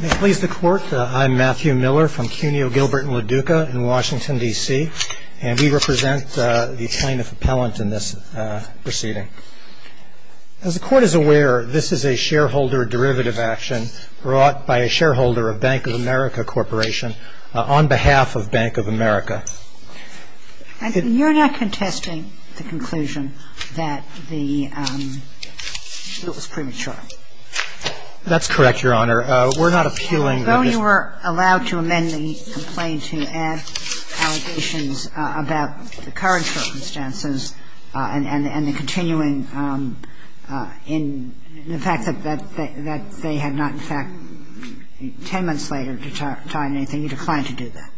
May it please the Court, I'm Matthew Miller from Cuneo, Gilbert & LaDuca in Washington, D.C. and we represent the plaintiff appellant in this proceeding. As the Court is aware, this is a shareholder derivative action brought by a shareholder of Bank of America Corporation on behalf of Bank of America. You're not contesting the conclusion that it was premature. That's correct, Your Honor. We're not appealing the Although you were allowed to amend the complaint to add allegations about the current circumstances and the continuing in the fact that they had not in fact 10 months later to tie anything, you declined to do that.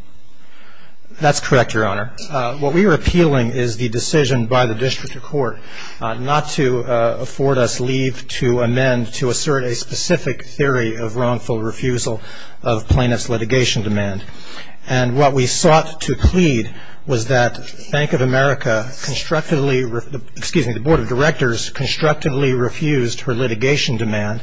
That's correct, Your Honor. What we are appealing is the decision by the District Court not to afford us leave to amend to assert a specific theory of wrongful refusal of plaintiff's litigation demand. And what we sought to plead was that Bank of America constructively excuse me, the Board of Directors constructively refused her litigation demand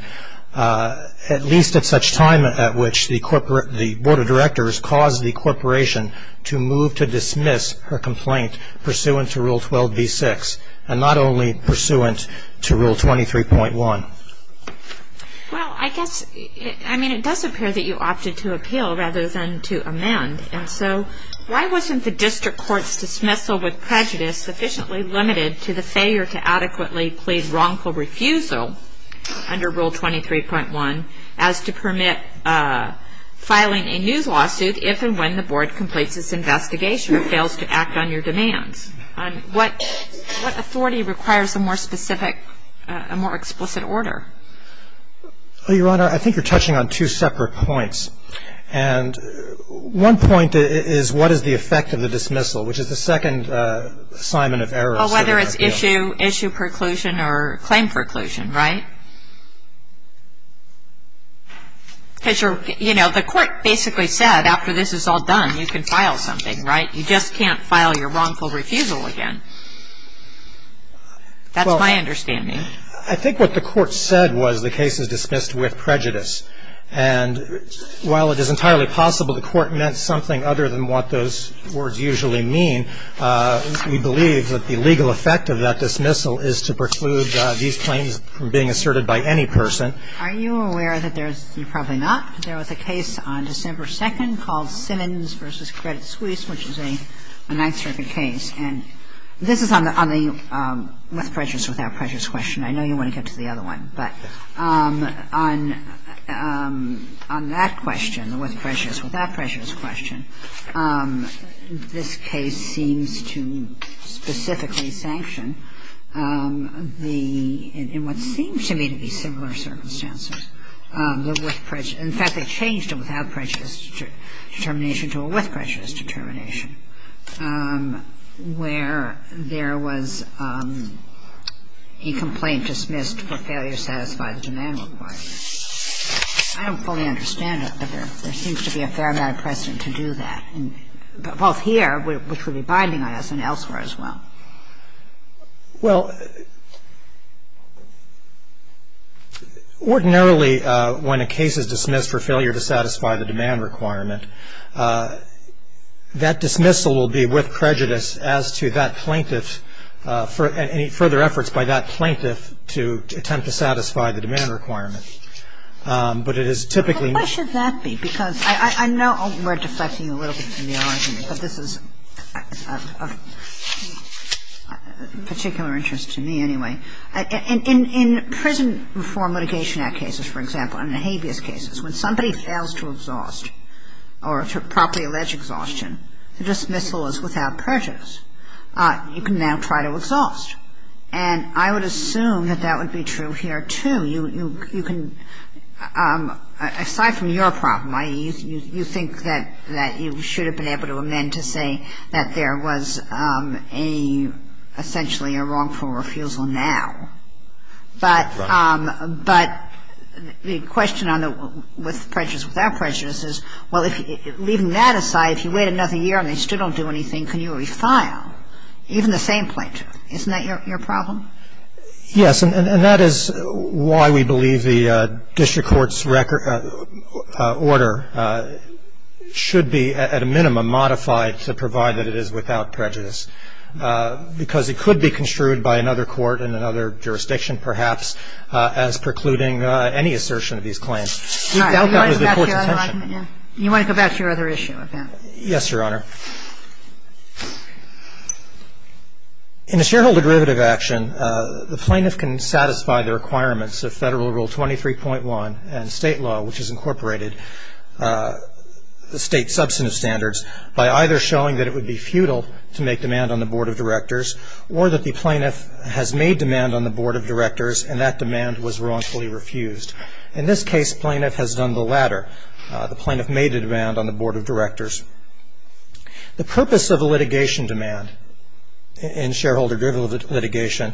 at least at such time at which the Board of Directors caused the Corporation to move to dismiss her complaint pursuant to Rule 12b-6 and not only pursuant to Rule 23.1. Well, I guess, I mean it does appear that you opted to appeal rather than to amend and so why wasn't the District Court's dismissal with prejudice sufficiently limited to the failure to adequately plead wrongful refusal under Rule 23.1 as to permit filing a new lawsuit if and when the Board completes its investigation or fails to act on your demands? What authority requires a more specific, a more explicit order? Your Honor, I think you're touching on two separate points. And one point is what is the effect of the dismissal, which is the second assignment of errors. Well, whether it's issue, issue preclusion or claim preclusion, right? Because, you know, the Court basically said after this is all done you can file something, right? You just can't file your wrongful refusal again. That's my understanding. I think what the Court said was the case is dismissed with prejudice. And while it is entirely possible the Court meant something other than what those words usually mean, we believe that the legal effect of that dismissal is to preclude these claims from being asserted by any person. Are you aware that there's – you're probably not. There was a case on December 2nd called Simmons v. Credit Suisse, which is a Ninth Circuit case. And this is on the with prejudice, without prejudice question. I know you want to get to the other one. But on that question, the with prejudice, without prejudice question, this case seems to specifically sanction the – in what seems to me to be similar circumstances. In fact, they changed a without prejudice determination to a with prejudice determination, where there was a complaint dismissed for failure to satisfy the demand requirement. I don't fully understand it, but there seems to be a fair amount of precedent to do that, both here, which would be binding on us, and elsewhere as well. Well, ordinarily when a case is dismissed for failure to satisfy the demand requirement, that dismissal will be with prejudice as to that plaintiff's – any further efforts by that plaintiff to attempt to satisfy the demand requirement. But it is typically not. Why should that be? Because I know we're deflecting a little bit from the argument, but this is of particular interest to me anyway. In prison reform litigation act cases, for example, and in habeas cases, when somebody fails to exhaust or to properly allege exhaustion, the dismissal is without prejudice. You can now try to exhaust. And I would assume that that would be true here, too. You can – aside from your problem, you think that you should have been able to amend to say that there was a – essentially a wrongful refusal now. But the question on the with prejudice, without prejudice is, well, leaving that aside, if you wait another year and they still don't do anything, can you refile? Even the same plaintiff. Isn't that your problem? Yes. And that is why we believe the district court's order should be at a minimum modified to provide that it is without prejudice. to provide that it is without prejudice. to provide that it is without prejudice. Because it could be construed by another court in another jurisdiction, perhaps, as precluding any assertion of these claims. We doubt that was the court's intention. You want to go back to your other issue? Yes, Your Honor. In a shareholder derivative action, the plaintiff can satisfy the requirements of Federal Rule 23.1 and state law, which has incorporated the state substantive standards, by either showing that it would be futile to make demand on the Board of Directors or that the plaintiff has made demand on the Board of Directors and that demand was wrongfully refused. In this case, the plaintiff has done the latter. The plaintiff made a demand on the Board of Directors. The purpose of a litigation demand in shareholder derivative litigation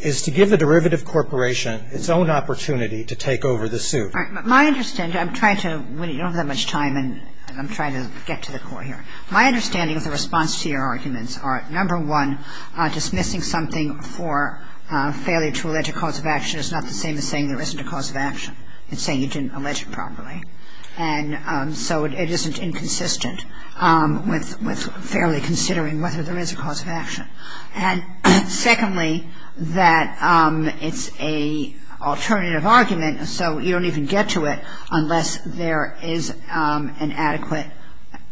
is to give the derivative corporation its own opportunity to take over the suit. My understanding, I'm trying to, you don't have that much time, and I'm trying to get to the core here. My understanding of the response to your arguments are, number one, dismissing something for failure to allege a cause of action is not the same as saying there isn't a cause of action. It's saying you didn't allege it properly. And so it isn't inconsistent. It isn't consistent with fairly considering whether there is a cause of action. And secondly, that it's an alternative argument, so you don't even get to it unless there is an adequate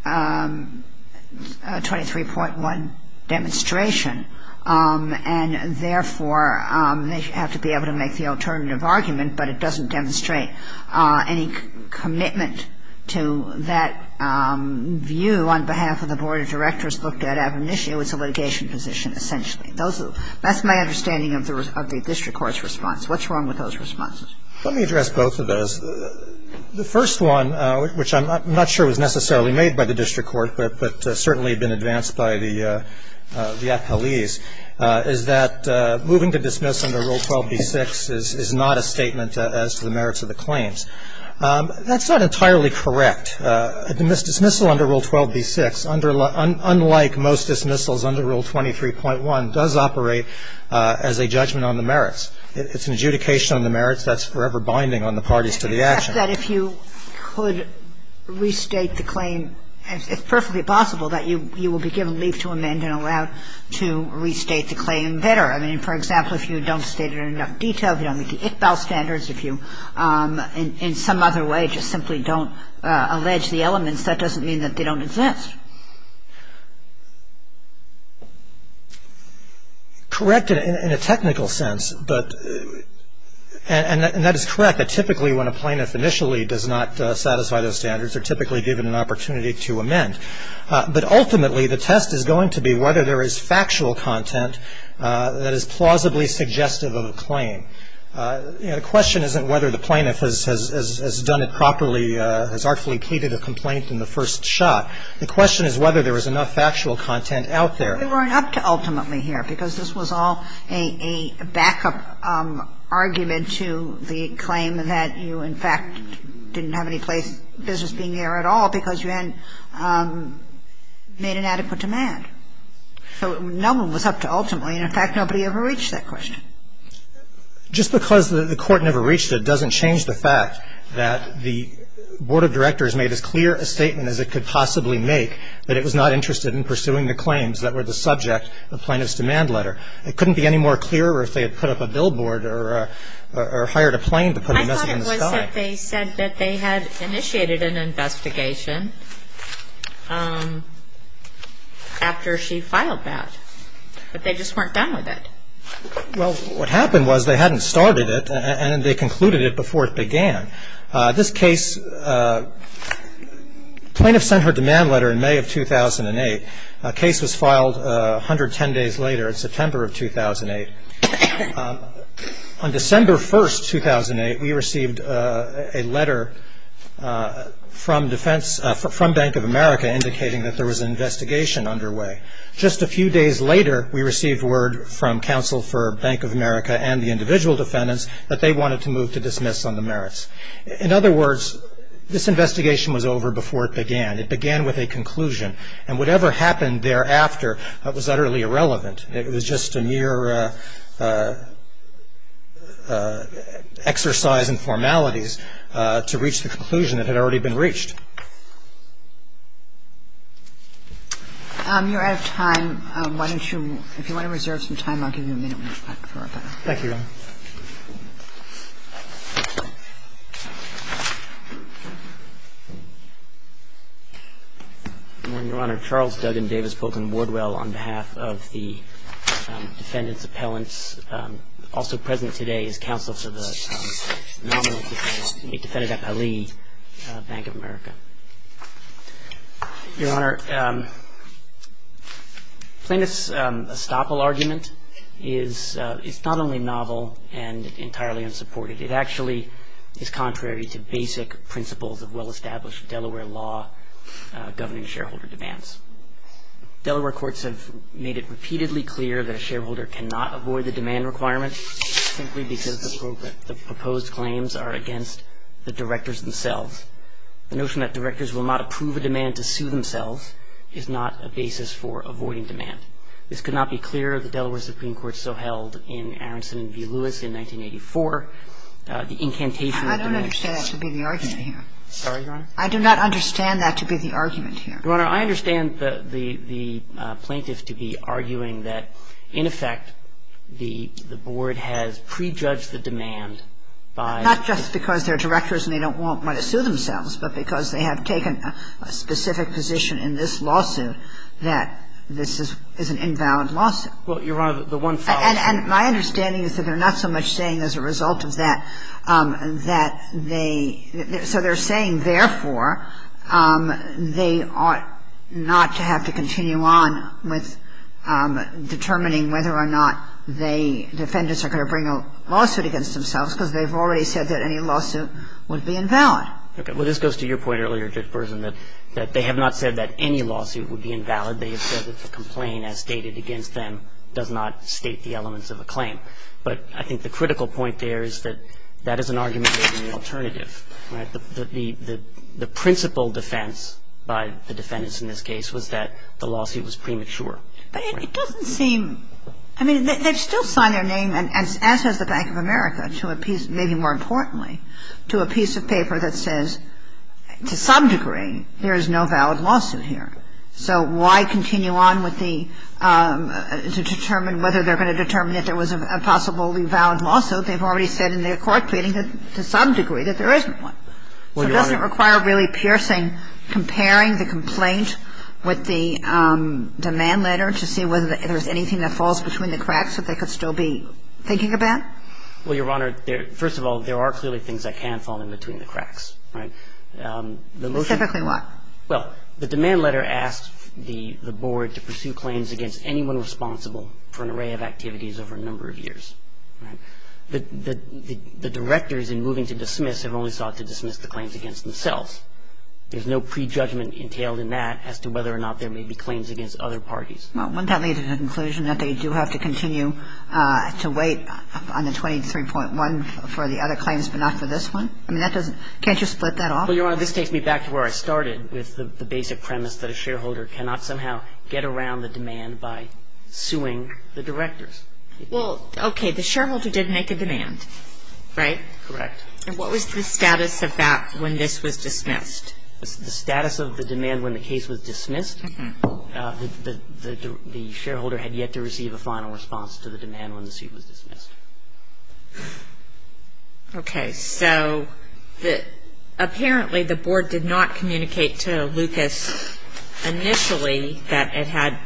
23.1 demonstration. And therefore, they have to be able to make the alternative argument, but it doesn't demonstrate any commitment to that view on behalf of the Board of Directors looked at ab initio as a litigation position, essentially. That's my understanding of the district court's response. What's wrong with those responses? Let me address both of those. The first one, which I'm not sure was necessarily made by the district court, but certainly been advanced by the appellees, is that moving to dismiss under Rule 12b-6 is not a statement as to the merits of the claims. That's not entirely correct. A dismissal under Rule 12b-6, unlike most dismissals under Rule 23.1, does operate as a judgment on the merits. It's an adjudication on the merits. That's forever binding on the parties to the action. If you could restate the claim, it's perfectly possible that you will be given the opportunity to amend and allowed to restate the claim better. I mean, for example, if you don't state it in enough detail, if you don't meet the ICBAL standards, if you in some other way just simply don't allege the elements, that doesn't mean that they don't exist. Correct in a technical sense, and that is correct. Typically when a plaintiff initially does not satisfy those standards, they're typically given an opportunity to amend. But ultimately, the test is going to be whether there is factual content that is plausibly suggestive of a claim. The question isn't whether the plaintiff has done it properly, has artfully catered a complaint in the first shot. The question is whether there is enough factual content out there. We weren't up to ultimately here, because this was all a backup argument to the claim that you, in fact, didn't have any place, business being there at all, because you hadn't made an adequate demand. So no one was up to ultimately. In fact, nobody ever reached that question. Just because the Court never reached it doesn't change the fact that the Board of Directors made as clear a statement as it could possibly make that it was not interested in pursuing the claims that were the subject of the plaintiff's demand letter. It couldn't be any more clear if they had put up a billboard or hired a plane to put a message in the sky. They said that they had initiated an investigation after she filed that, but they just weren't done with it. Well, what happened was they hadn't started it, and they concluded it before it began. This case, the plaintiff sent her demand letter in May of 2008. The case was filed 110 days later in September of 2008. On December 1, 2008, we received a letter from Bank of America indicating that there was an investigation underway. Just a few days later, we received word from counsel for Bank of America and the individual defendants that they wanted to move to dismiss on the merits. In other words, this investigation was over before it began. It began with a conclusion, and whatever happened thereafter was utterly irrelevant. It was just a mere exercise in formalities to reach the conclusion that had already been reached. You're out of time. Why don't you – if you want to reserve some time, I'll give you a minute when we're back for our panel. Thank you, Your Honor. Good morning, Your Honor. Charles Duggan Davis Bolton Woodwell on behalf of the defendants' appellants. Also present today is counsel for the nominal defendants. He defended that by Lee, Bank of America. Your Honor, plaintiff's estoppel argument is not only novel and entirely unsupported. It actually is contrary to basic principles of well-established Delaware law governing shareholder demands. Delaware courts have made it repeatedly clear that a shareholder cannot avoid the demand requirement simply because the proposed claims are against the directors themselves. The notion that directors will not approve a demand to sue themselves is not a basis for avoiding demand. This could not be clearer. The Delaware Supreme Court so held in Aronson v. Lewis in 1984. The incantation of demands – I don't understand that to be the argument here. Sorry, Your Honor? I do not understand that to be the argument here. Your Honor, I understand the plaintiff to be arguing that, in effect, the board has prejudged the demand by – by the directors themselves, but because they have taken a specific position in this lawsuit that this is an invalid lawsuit. Well, Your Honor, the one fact – And my understanding is that they're not so much saying as a result of that, that they – so they're saying, therefore, they ought not to have to continue on with determining whether or not they – defendants are going to bring a lawsuit against themselves because they've already said that any lawsuit would be invalid. Okay. Well, this goes to your point earlier, Judge Burson, that they have not said that any lawsuit would be invalid. They have said that the complaint, as stated against them, does not state the elements of a claim. But I think the critical point there is that that is an argument for the alternative. Right? The principle defense by the defendants in this case was that the lawsuit was premature. But it doesn't seem – I mean, they've still signed their name, as has the Bank of America, to a piece – maybe more importantly, to a piece of paper that says to some degree there is no valid lawsuit here. So why continue on with the – to determine whether they're going to determine that there was a possibly valid lawsuit? They've already said in their court pleading that to some degree that there isn't one. So does it require really piercing, comparing the complaint with the demand letter to see whether there's anything that falls between the cracks that they could still be thinking about? Well, Your Honor, first of all, there are clearly things that can fall in between the cracks. Right? Specifically what? Well, the demand letter asks the Board to pursue claims against anyone responsible for an array of activities over a number of years. Right? The directors in moving to dismiss have only sought to dismiss the claims against themselves. There's no prejudgment entailed in that as to whether or not there may be claims against other parties. Well, wouldn't that lead to the conclusion that they do have to continue to wait on the 23.1 for the other claims but not for this one? I mean, that doesn't – can't you split that off? Well, Your Honor, this takes me back to where I started with the basic premise that a shareholder cannot somehow get around the demand by suing the directors. Well, okay. The shareholder did make a demand. Correct. And what was the status of that when this was dismissed? The status of the demand when the case was dismissed, the shareholder had yet to receive a final response to the demand when the suit was dismissed. Okay. So apparently the Board did not communicate to Lucas initially that it had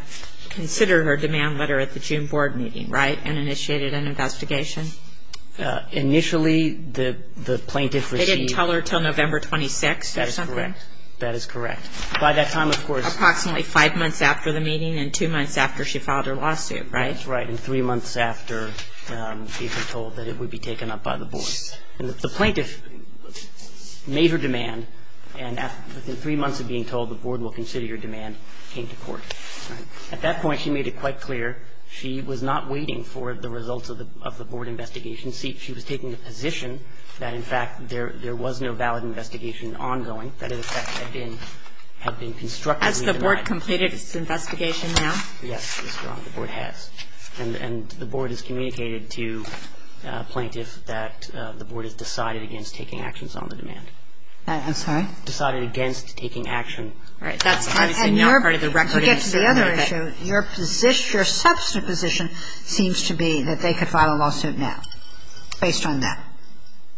considered her demand letter at the June Board meeting, right, and initiated an investigation? Initially, the plaintiff received – They didn't tell her until November 26? That is correct. That is correct. By that time, of course – Approximately five months after the meeting and two months after she filed her lawsuit, right? That's right. And three months after she had been told that it would be taken up by the Board. And the plaintiff made her demand, and within three months of being told the Board will consider your demand, came to court. Right. At that point, she made it quite clear she was not waiting for the results of the Board investigation. She was taking the position that, in fact, there was no valid investigation ongoing, that it had been constructively denied. Has the Board completed its investigation now? Yes. The Board has. And the Board has communicated to plaintiffs that the Board has decided against taking actions on the demand. I'm sorry? Decided against taking action. All right. That's obviously not part of the record. To get to the other issue, your position, your substantive position seems to be that they could file a lawsuit now, based on that.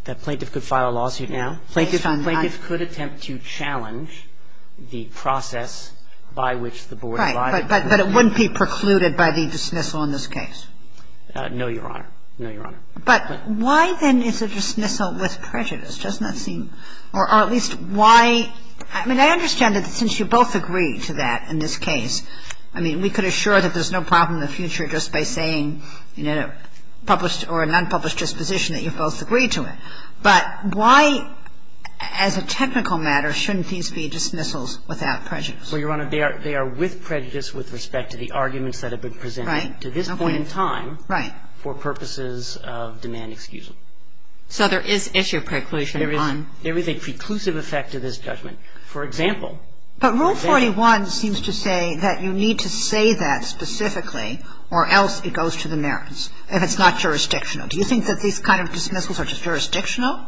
That plaintiff could file a lawsuit now? Based on that. Plaintiff could attempt to challenge the process by which the Board arrived. Right. But it wouldn't be precluded by the dismissal in this case. No, Your Honor. No, Your Honor. But why, then, is a dismissal with prejudice? Doesn't that seem or at least why – I mean, I understand that since you both agree to that in this case, I mean, we could assure that there's no problem in the future just by saying in a published or a non-published disposition that you both agree to it. But why, as a technical matter, shouldn't these be dismissals without prejudice? Well, Your Honor, they are with prejudice with respect to the arguments that have been presented to this point in time. Right. For purposes of demand excusal. So there is issue preclusion on – There is a preclusive effect to this judgment. For example – But Rule 41 seems to say that you need to say that specifically or else it goes to the merits if it's not jurisdictional. Do you think that these kind of dismissals are jurisdictional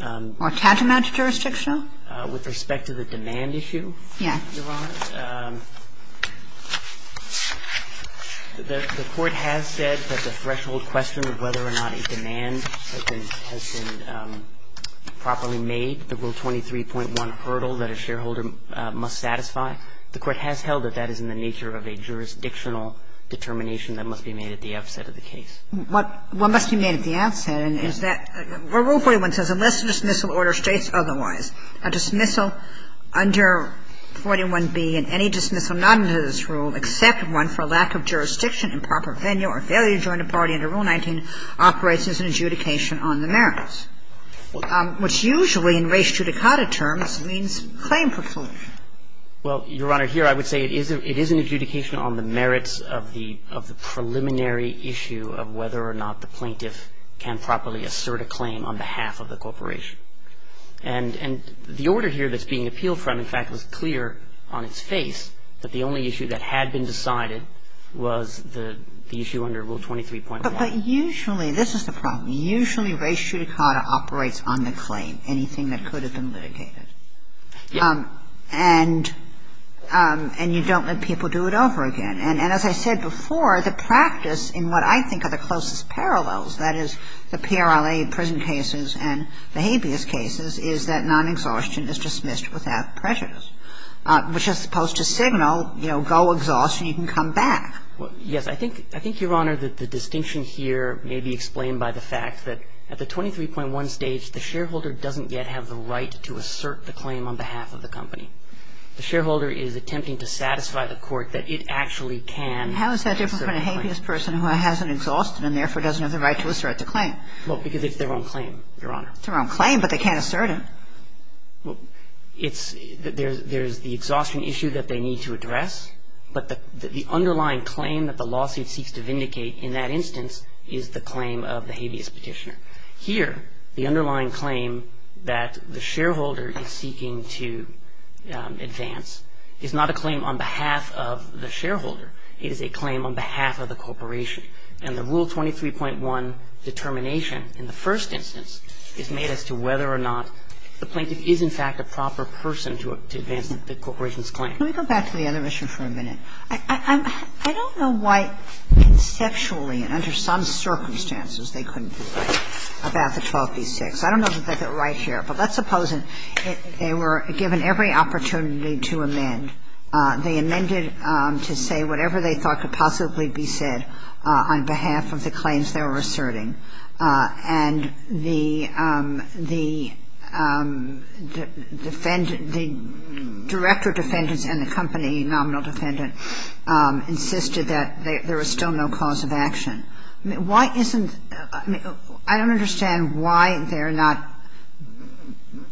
or tantamount to jurisdictional? With respect to the demand issue, Your Honor, the Court has said that the threshold question of whether or not a demand has been properly made, the Rule 23.1 hurdle that a shareholder must satisfy, the Court has held that that is in the nature of a jurisdictional determination that must be made at the outset of the case. What must be made at the outset is that Rule 41 says unless a dismissal order states otherwise, a dismissal under 41b and any dismissal not under this rule except one for lack of jurisdiction, improper venue or failure to join a party under Rule 19 operates as an adjudication on the merits. What's usually in res judicata terms means claim proclamation. Well, Your Honor, here I would say it is an adjudication on the merits of the preliminary issue of whether or not the plaintiff can properly assert a claim on behalf of the corporation. And the order here that's being appealed from, in fact, was clear on its face that the only issue that had been decided was the issue under Rule 23.1. But usually this is the problem. Usually res judicata operates on the claim, anything that could have been litigated. And you don't let people do it over again. And as I said before, the practice in what I think are the closest parallels, that is, the PRLA prison cases and the habeas cases, is that non-exhaustion is dismissed without prejudice, which is supposed to signal, you know, go exhaust and you can come back. Well, yes. I think, Your Honor, that the distinction here may be explained by the fact that at the 23.1 stage, the shareholder doesn't yet have the right to assert the claim on behalf of the company. The shareholder is attempting to satisfy the court that it actually can assert a claim. How is that different from a habeas person who hasn't exhausted and therefore doesn't have the right to assert the claim? Well, because it's their own claim, Your Honor. It's their own claim, but they can't assert it. Well, it's – there's the exhaustion issue that they need to address, but the underlying claim that the lawsuit seeks to vindicate in that instance is the claim of the habeas petitioner. Here, the underlying claim that the shareholder is seeking to advance is not a claim on behalf of the shareholder. It is a claim on behalf of the corporation. And the Rule 23.1 determination in the first instance is made as to whether or not the plaintiff is, in fact, a proper person to advance the corporation's claim. Can we go back to the other issue for a minute? I don't know why conceptually and under some circumstances they couldn't do that about the 12b-6. I don't know that they're right here, but let's suppose they were given every opportunity to amend. They amended to say whatever they thought could possibly be said on behalf of the claims they were asserting. And the defendant – the director of defendants and the company nominal defendant insisted that there was still no cause of action. Why isn't – I don't understand why they're not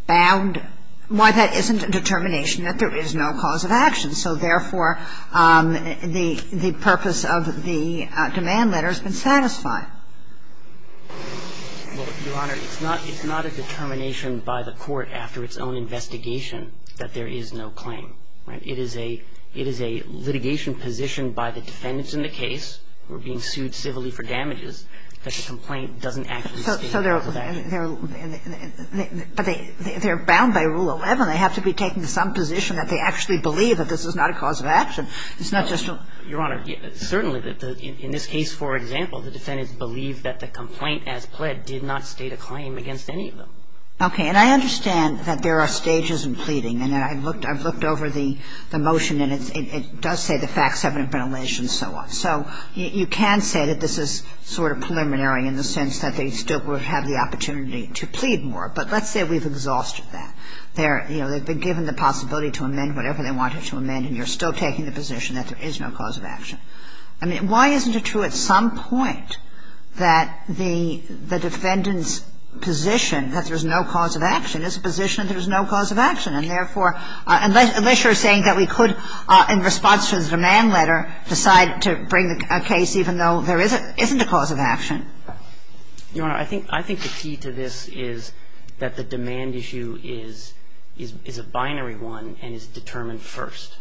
bound – why that isn't a determination that there is no cause of action. So, therefore, the purpose of the demand letter has been satisfied. Well, Your Honor, it's not a determination by the court after its own investigation that there is no claim. It is a litigation positioned by the defendants in the case who are being sued civilly for damages that the complaint doesn't actually state a cause of action. So they're bound by Rule 11. They have to be taken to some position that they actually believe that this is not a cause of action. It's not just a – Your Honor, certainly, in this case, for example, the defendants believe that the complaint as pled did not state a claim against any of them. Okay. And I understand that there are stages in pleading. And I looked – I've looked over the motion, and it does say the facts haven't been alleged and so on. So you can say that this is sort of preliminary in the sense that they still would have the opportunity to plead more. But let's say we've exhausted that. They're – you know, they've been given the possibility to amend whatever they wanted to amend, and you're still taking the position that there is no cause of action. I mean, why isn't it true at some point that the defendant's position that there's no cause of action is a position that there's no cause of action, and therefore – unless you're saying that we could, in response to the demand letter, decide to bring a case even though there isn't a cause of action. Your Honor, I think the key to this is that the demand issue is a binary one and is determined first.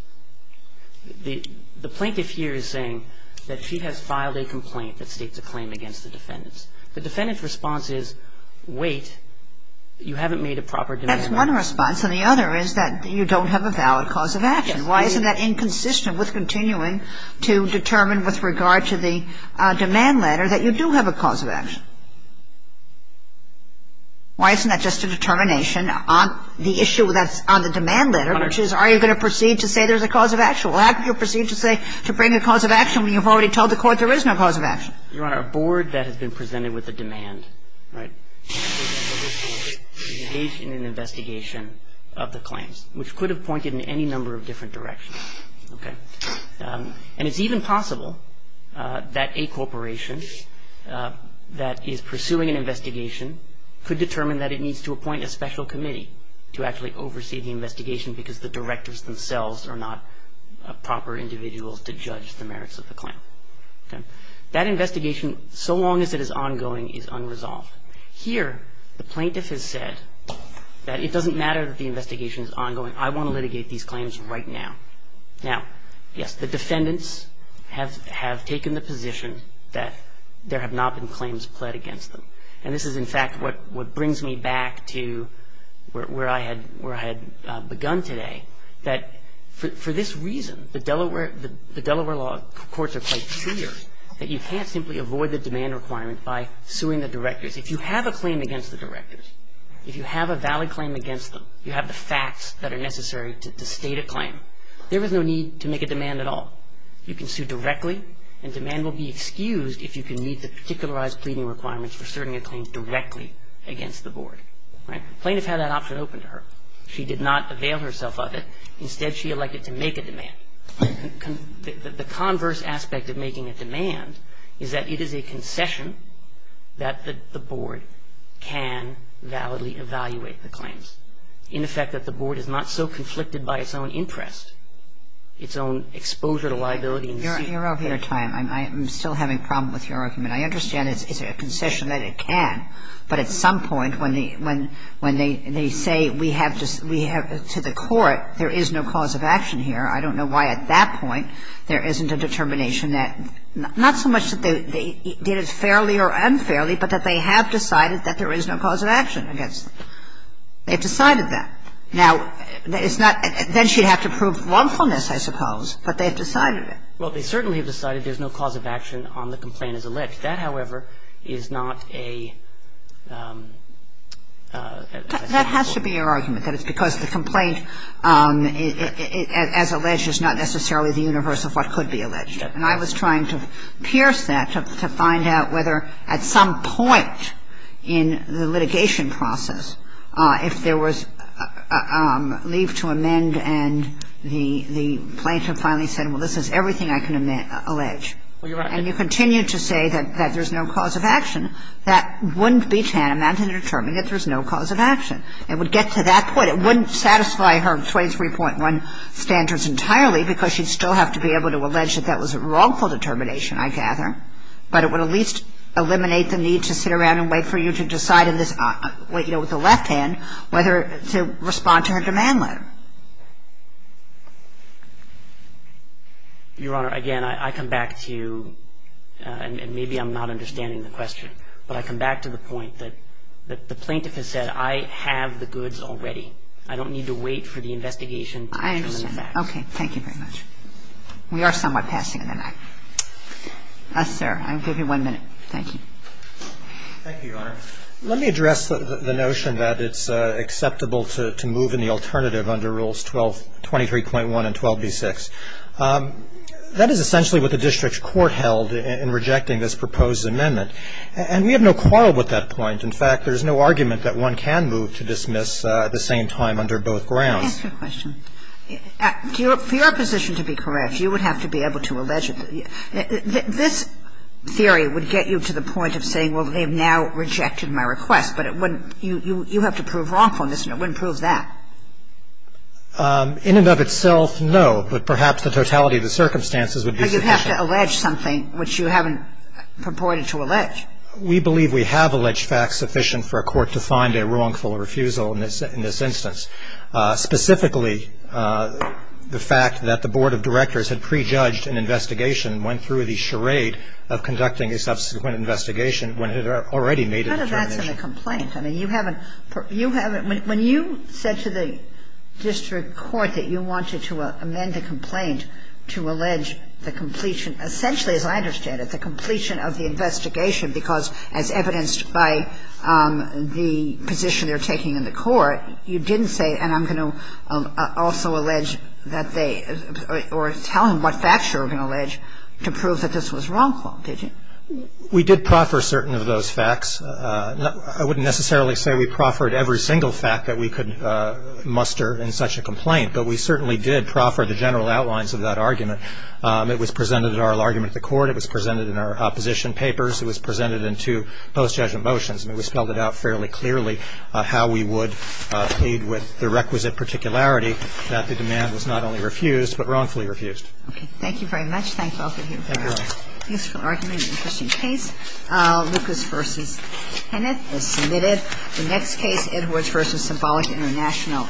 The plaintiff here is saying that she has filed a complaint that states a claim against the defendants. The defendant's response is, wait, you haven't made a proper demand letter. That's one response. And the other is that you don't have a valid cause of action. Yes. Why isn't that inconsistent with continuing to determine with regard to the demand letter that you do have a cause of action? Why isn't that just a determination on the issue that's on the demand letter, which is, are you going to proceed to say there's a cause of action? Well, how can you proceed to say – to bring a cause of action when you've already told the court there is no cause of action? Your Honor, a board that has been presented with a demand, right, engage in an investigation of the claims, which could have pointed in any number of different directions. Okay. And it's even possible that a corporation that is pursuing an investigation could determine that it needs to appoint a special committee to actually oversee the investigation because the directors themselves are not proper individuals to judge the merits of the claim. Okay. That investigation, so long as it is ongoing, is unresolved. Here, the plaintiff has said that it doesn't matter that the investigation is ongoing. I want to litigate these claims right now. Now, yes, the defendants have taken the position that there have not been claims pled against them. And this is, in fact, what brings me back to where I had begun today, that for this reason, the Delaware law courts are quite clear that you can't simply avoid the demand requirement by suing the directors. If you have a claim against the directors, if you have a valid claim against them, you have the facts that are necessary to state a claim, there is no need to make a demand at all. You can sue directly, and demand will be excused if you can meet the particularized requirements for certain claims directly against the board. Right? The plaintiff had that option open to her. She did not avail herself of it. Instead, she elected to make a demand. The converse aspect of making a demand is that it is a concession that the board can validly evaluate the claims. In effect, that the board is not so conflicted by its own interest, its own exposure to liability. Your argument, I'm still having a problem with your argument. I understand it's a concession that it can, but at some point, when they say we have to the court, there is no cause of action here, I don't know why at that point there isn't a determination that not so much that they did it fairly or unfairly, but that they have decided that there is no cause of action against them. They've decided that. Now, it's not that she'd have to prove wrongfulness, I suppose, but they've decided it. Well, they certainly have decided there's no cause of action on the complaint as alleged. That, however, is not a ---- That has to be your argument, that it's because the complaint as alleged is not necessarily the universe of what could be alleged. And I was trying to pierce that to find out whether at some point in the litigation process, if there was leave to amend and the plaintiff finally said, well, this is everything I can allege, and you continue to say that there's no cause of action, that wouldn't be tantamount to determining that there's no cause of action. It would get to that point. It wouldn't satisfy her 23.1 standards entirely because she'd still have to be able to allege that that was a wrongful determination, I gather, but it would at least eliminate the need to sit around and wait for you to decide in this, you know, with the left hand whether to respond to her demand letter. Your Honor, again, I come back to you, and maybe I'm not understanding the question, but I come back to the point that the plaintiff has said, I have the goods already. I don't need to wait for the investigation to determine that. I understand. Okay. Thank you very much. We are somewhat passing in the night. Yes, sir. I'll give you one minute. Thank you. Thank you, Your Honor. Let me address the notion that it's acceptable to move in the alternative under Rules 23.1 and 12b-6. That is essentially what the district court held in rejecting this proposed amendment, and we have no quarrel with that point. In fact, there's no argument that one can move to dismiss at the same time under both grounds. Let me ask you a question. For your position to be correct, you would have to be able to allege it. This theory would get you to the point of saying, well, they've now rejected my request, but it wouldn't you have to prove wrongfulness, and it wouldn't prove that. In and of itself, no, but perhaps the totality of the circumstances would be sufficient. But you'd have to allege something which you haven't purported to allege. We believe we have alleged facts sufficient for a court to find a wrongful refusal in this instance. Specifically, the fact that the Board of Directors had prejudged an investigation and went through the charade of conducting a subsequent investigation when it had already made an determination. None of that's in the complaint. I mean, you haven't, you haven't, when you said to the district court that you wanted to amend the complaint to allege the completion, essentially, as I understand it, the completion of the investigation because, as evidenced by the position they're taking in the court, you didn't say, and I'm going to also allege that they, or tell them what facts you're going to allege to prove that this was wrongful, did you? We did proffer certain of those facts. I wouldn't necessarily say we proffered every single fact that we could muster in such a complaint. But we certainly did proffer the general outlines of that argument. It was presented at oral argument at the court. It was presented in our opposition papers. It was presented in two post-judgment motions. And we spelled it out fairly clearly how we would plead with the requisite particularity that the demand was not only refused, but wrongfully refused. Okay. Thank you very much. Thank both of you. Thank you all. Useful argument, interesting case. Lucas v. Kenneth is submitted. The next case, Edwards v. Symbolic International,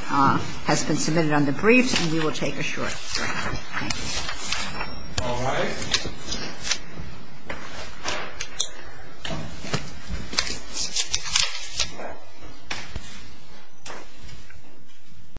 has been submitted under briefs and we will take a short break. Thank you. All right.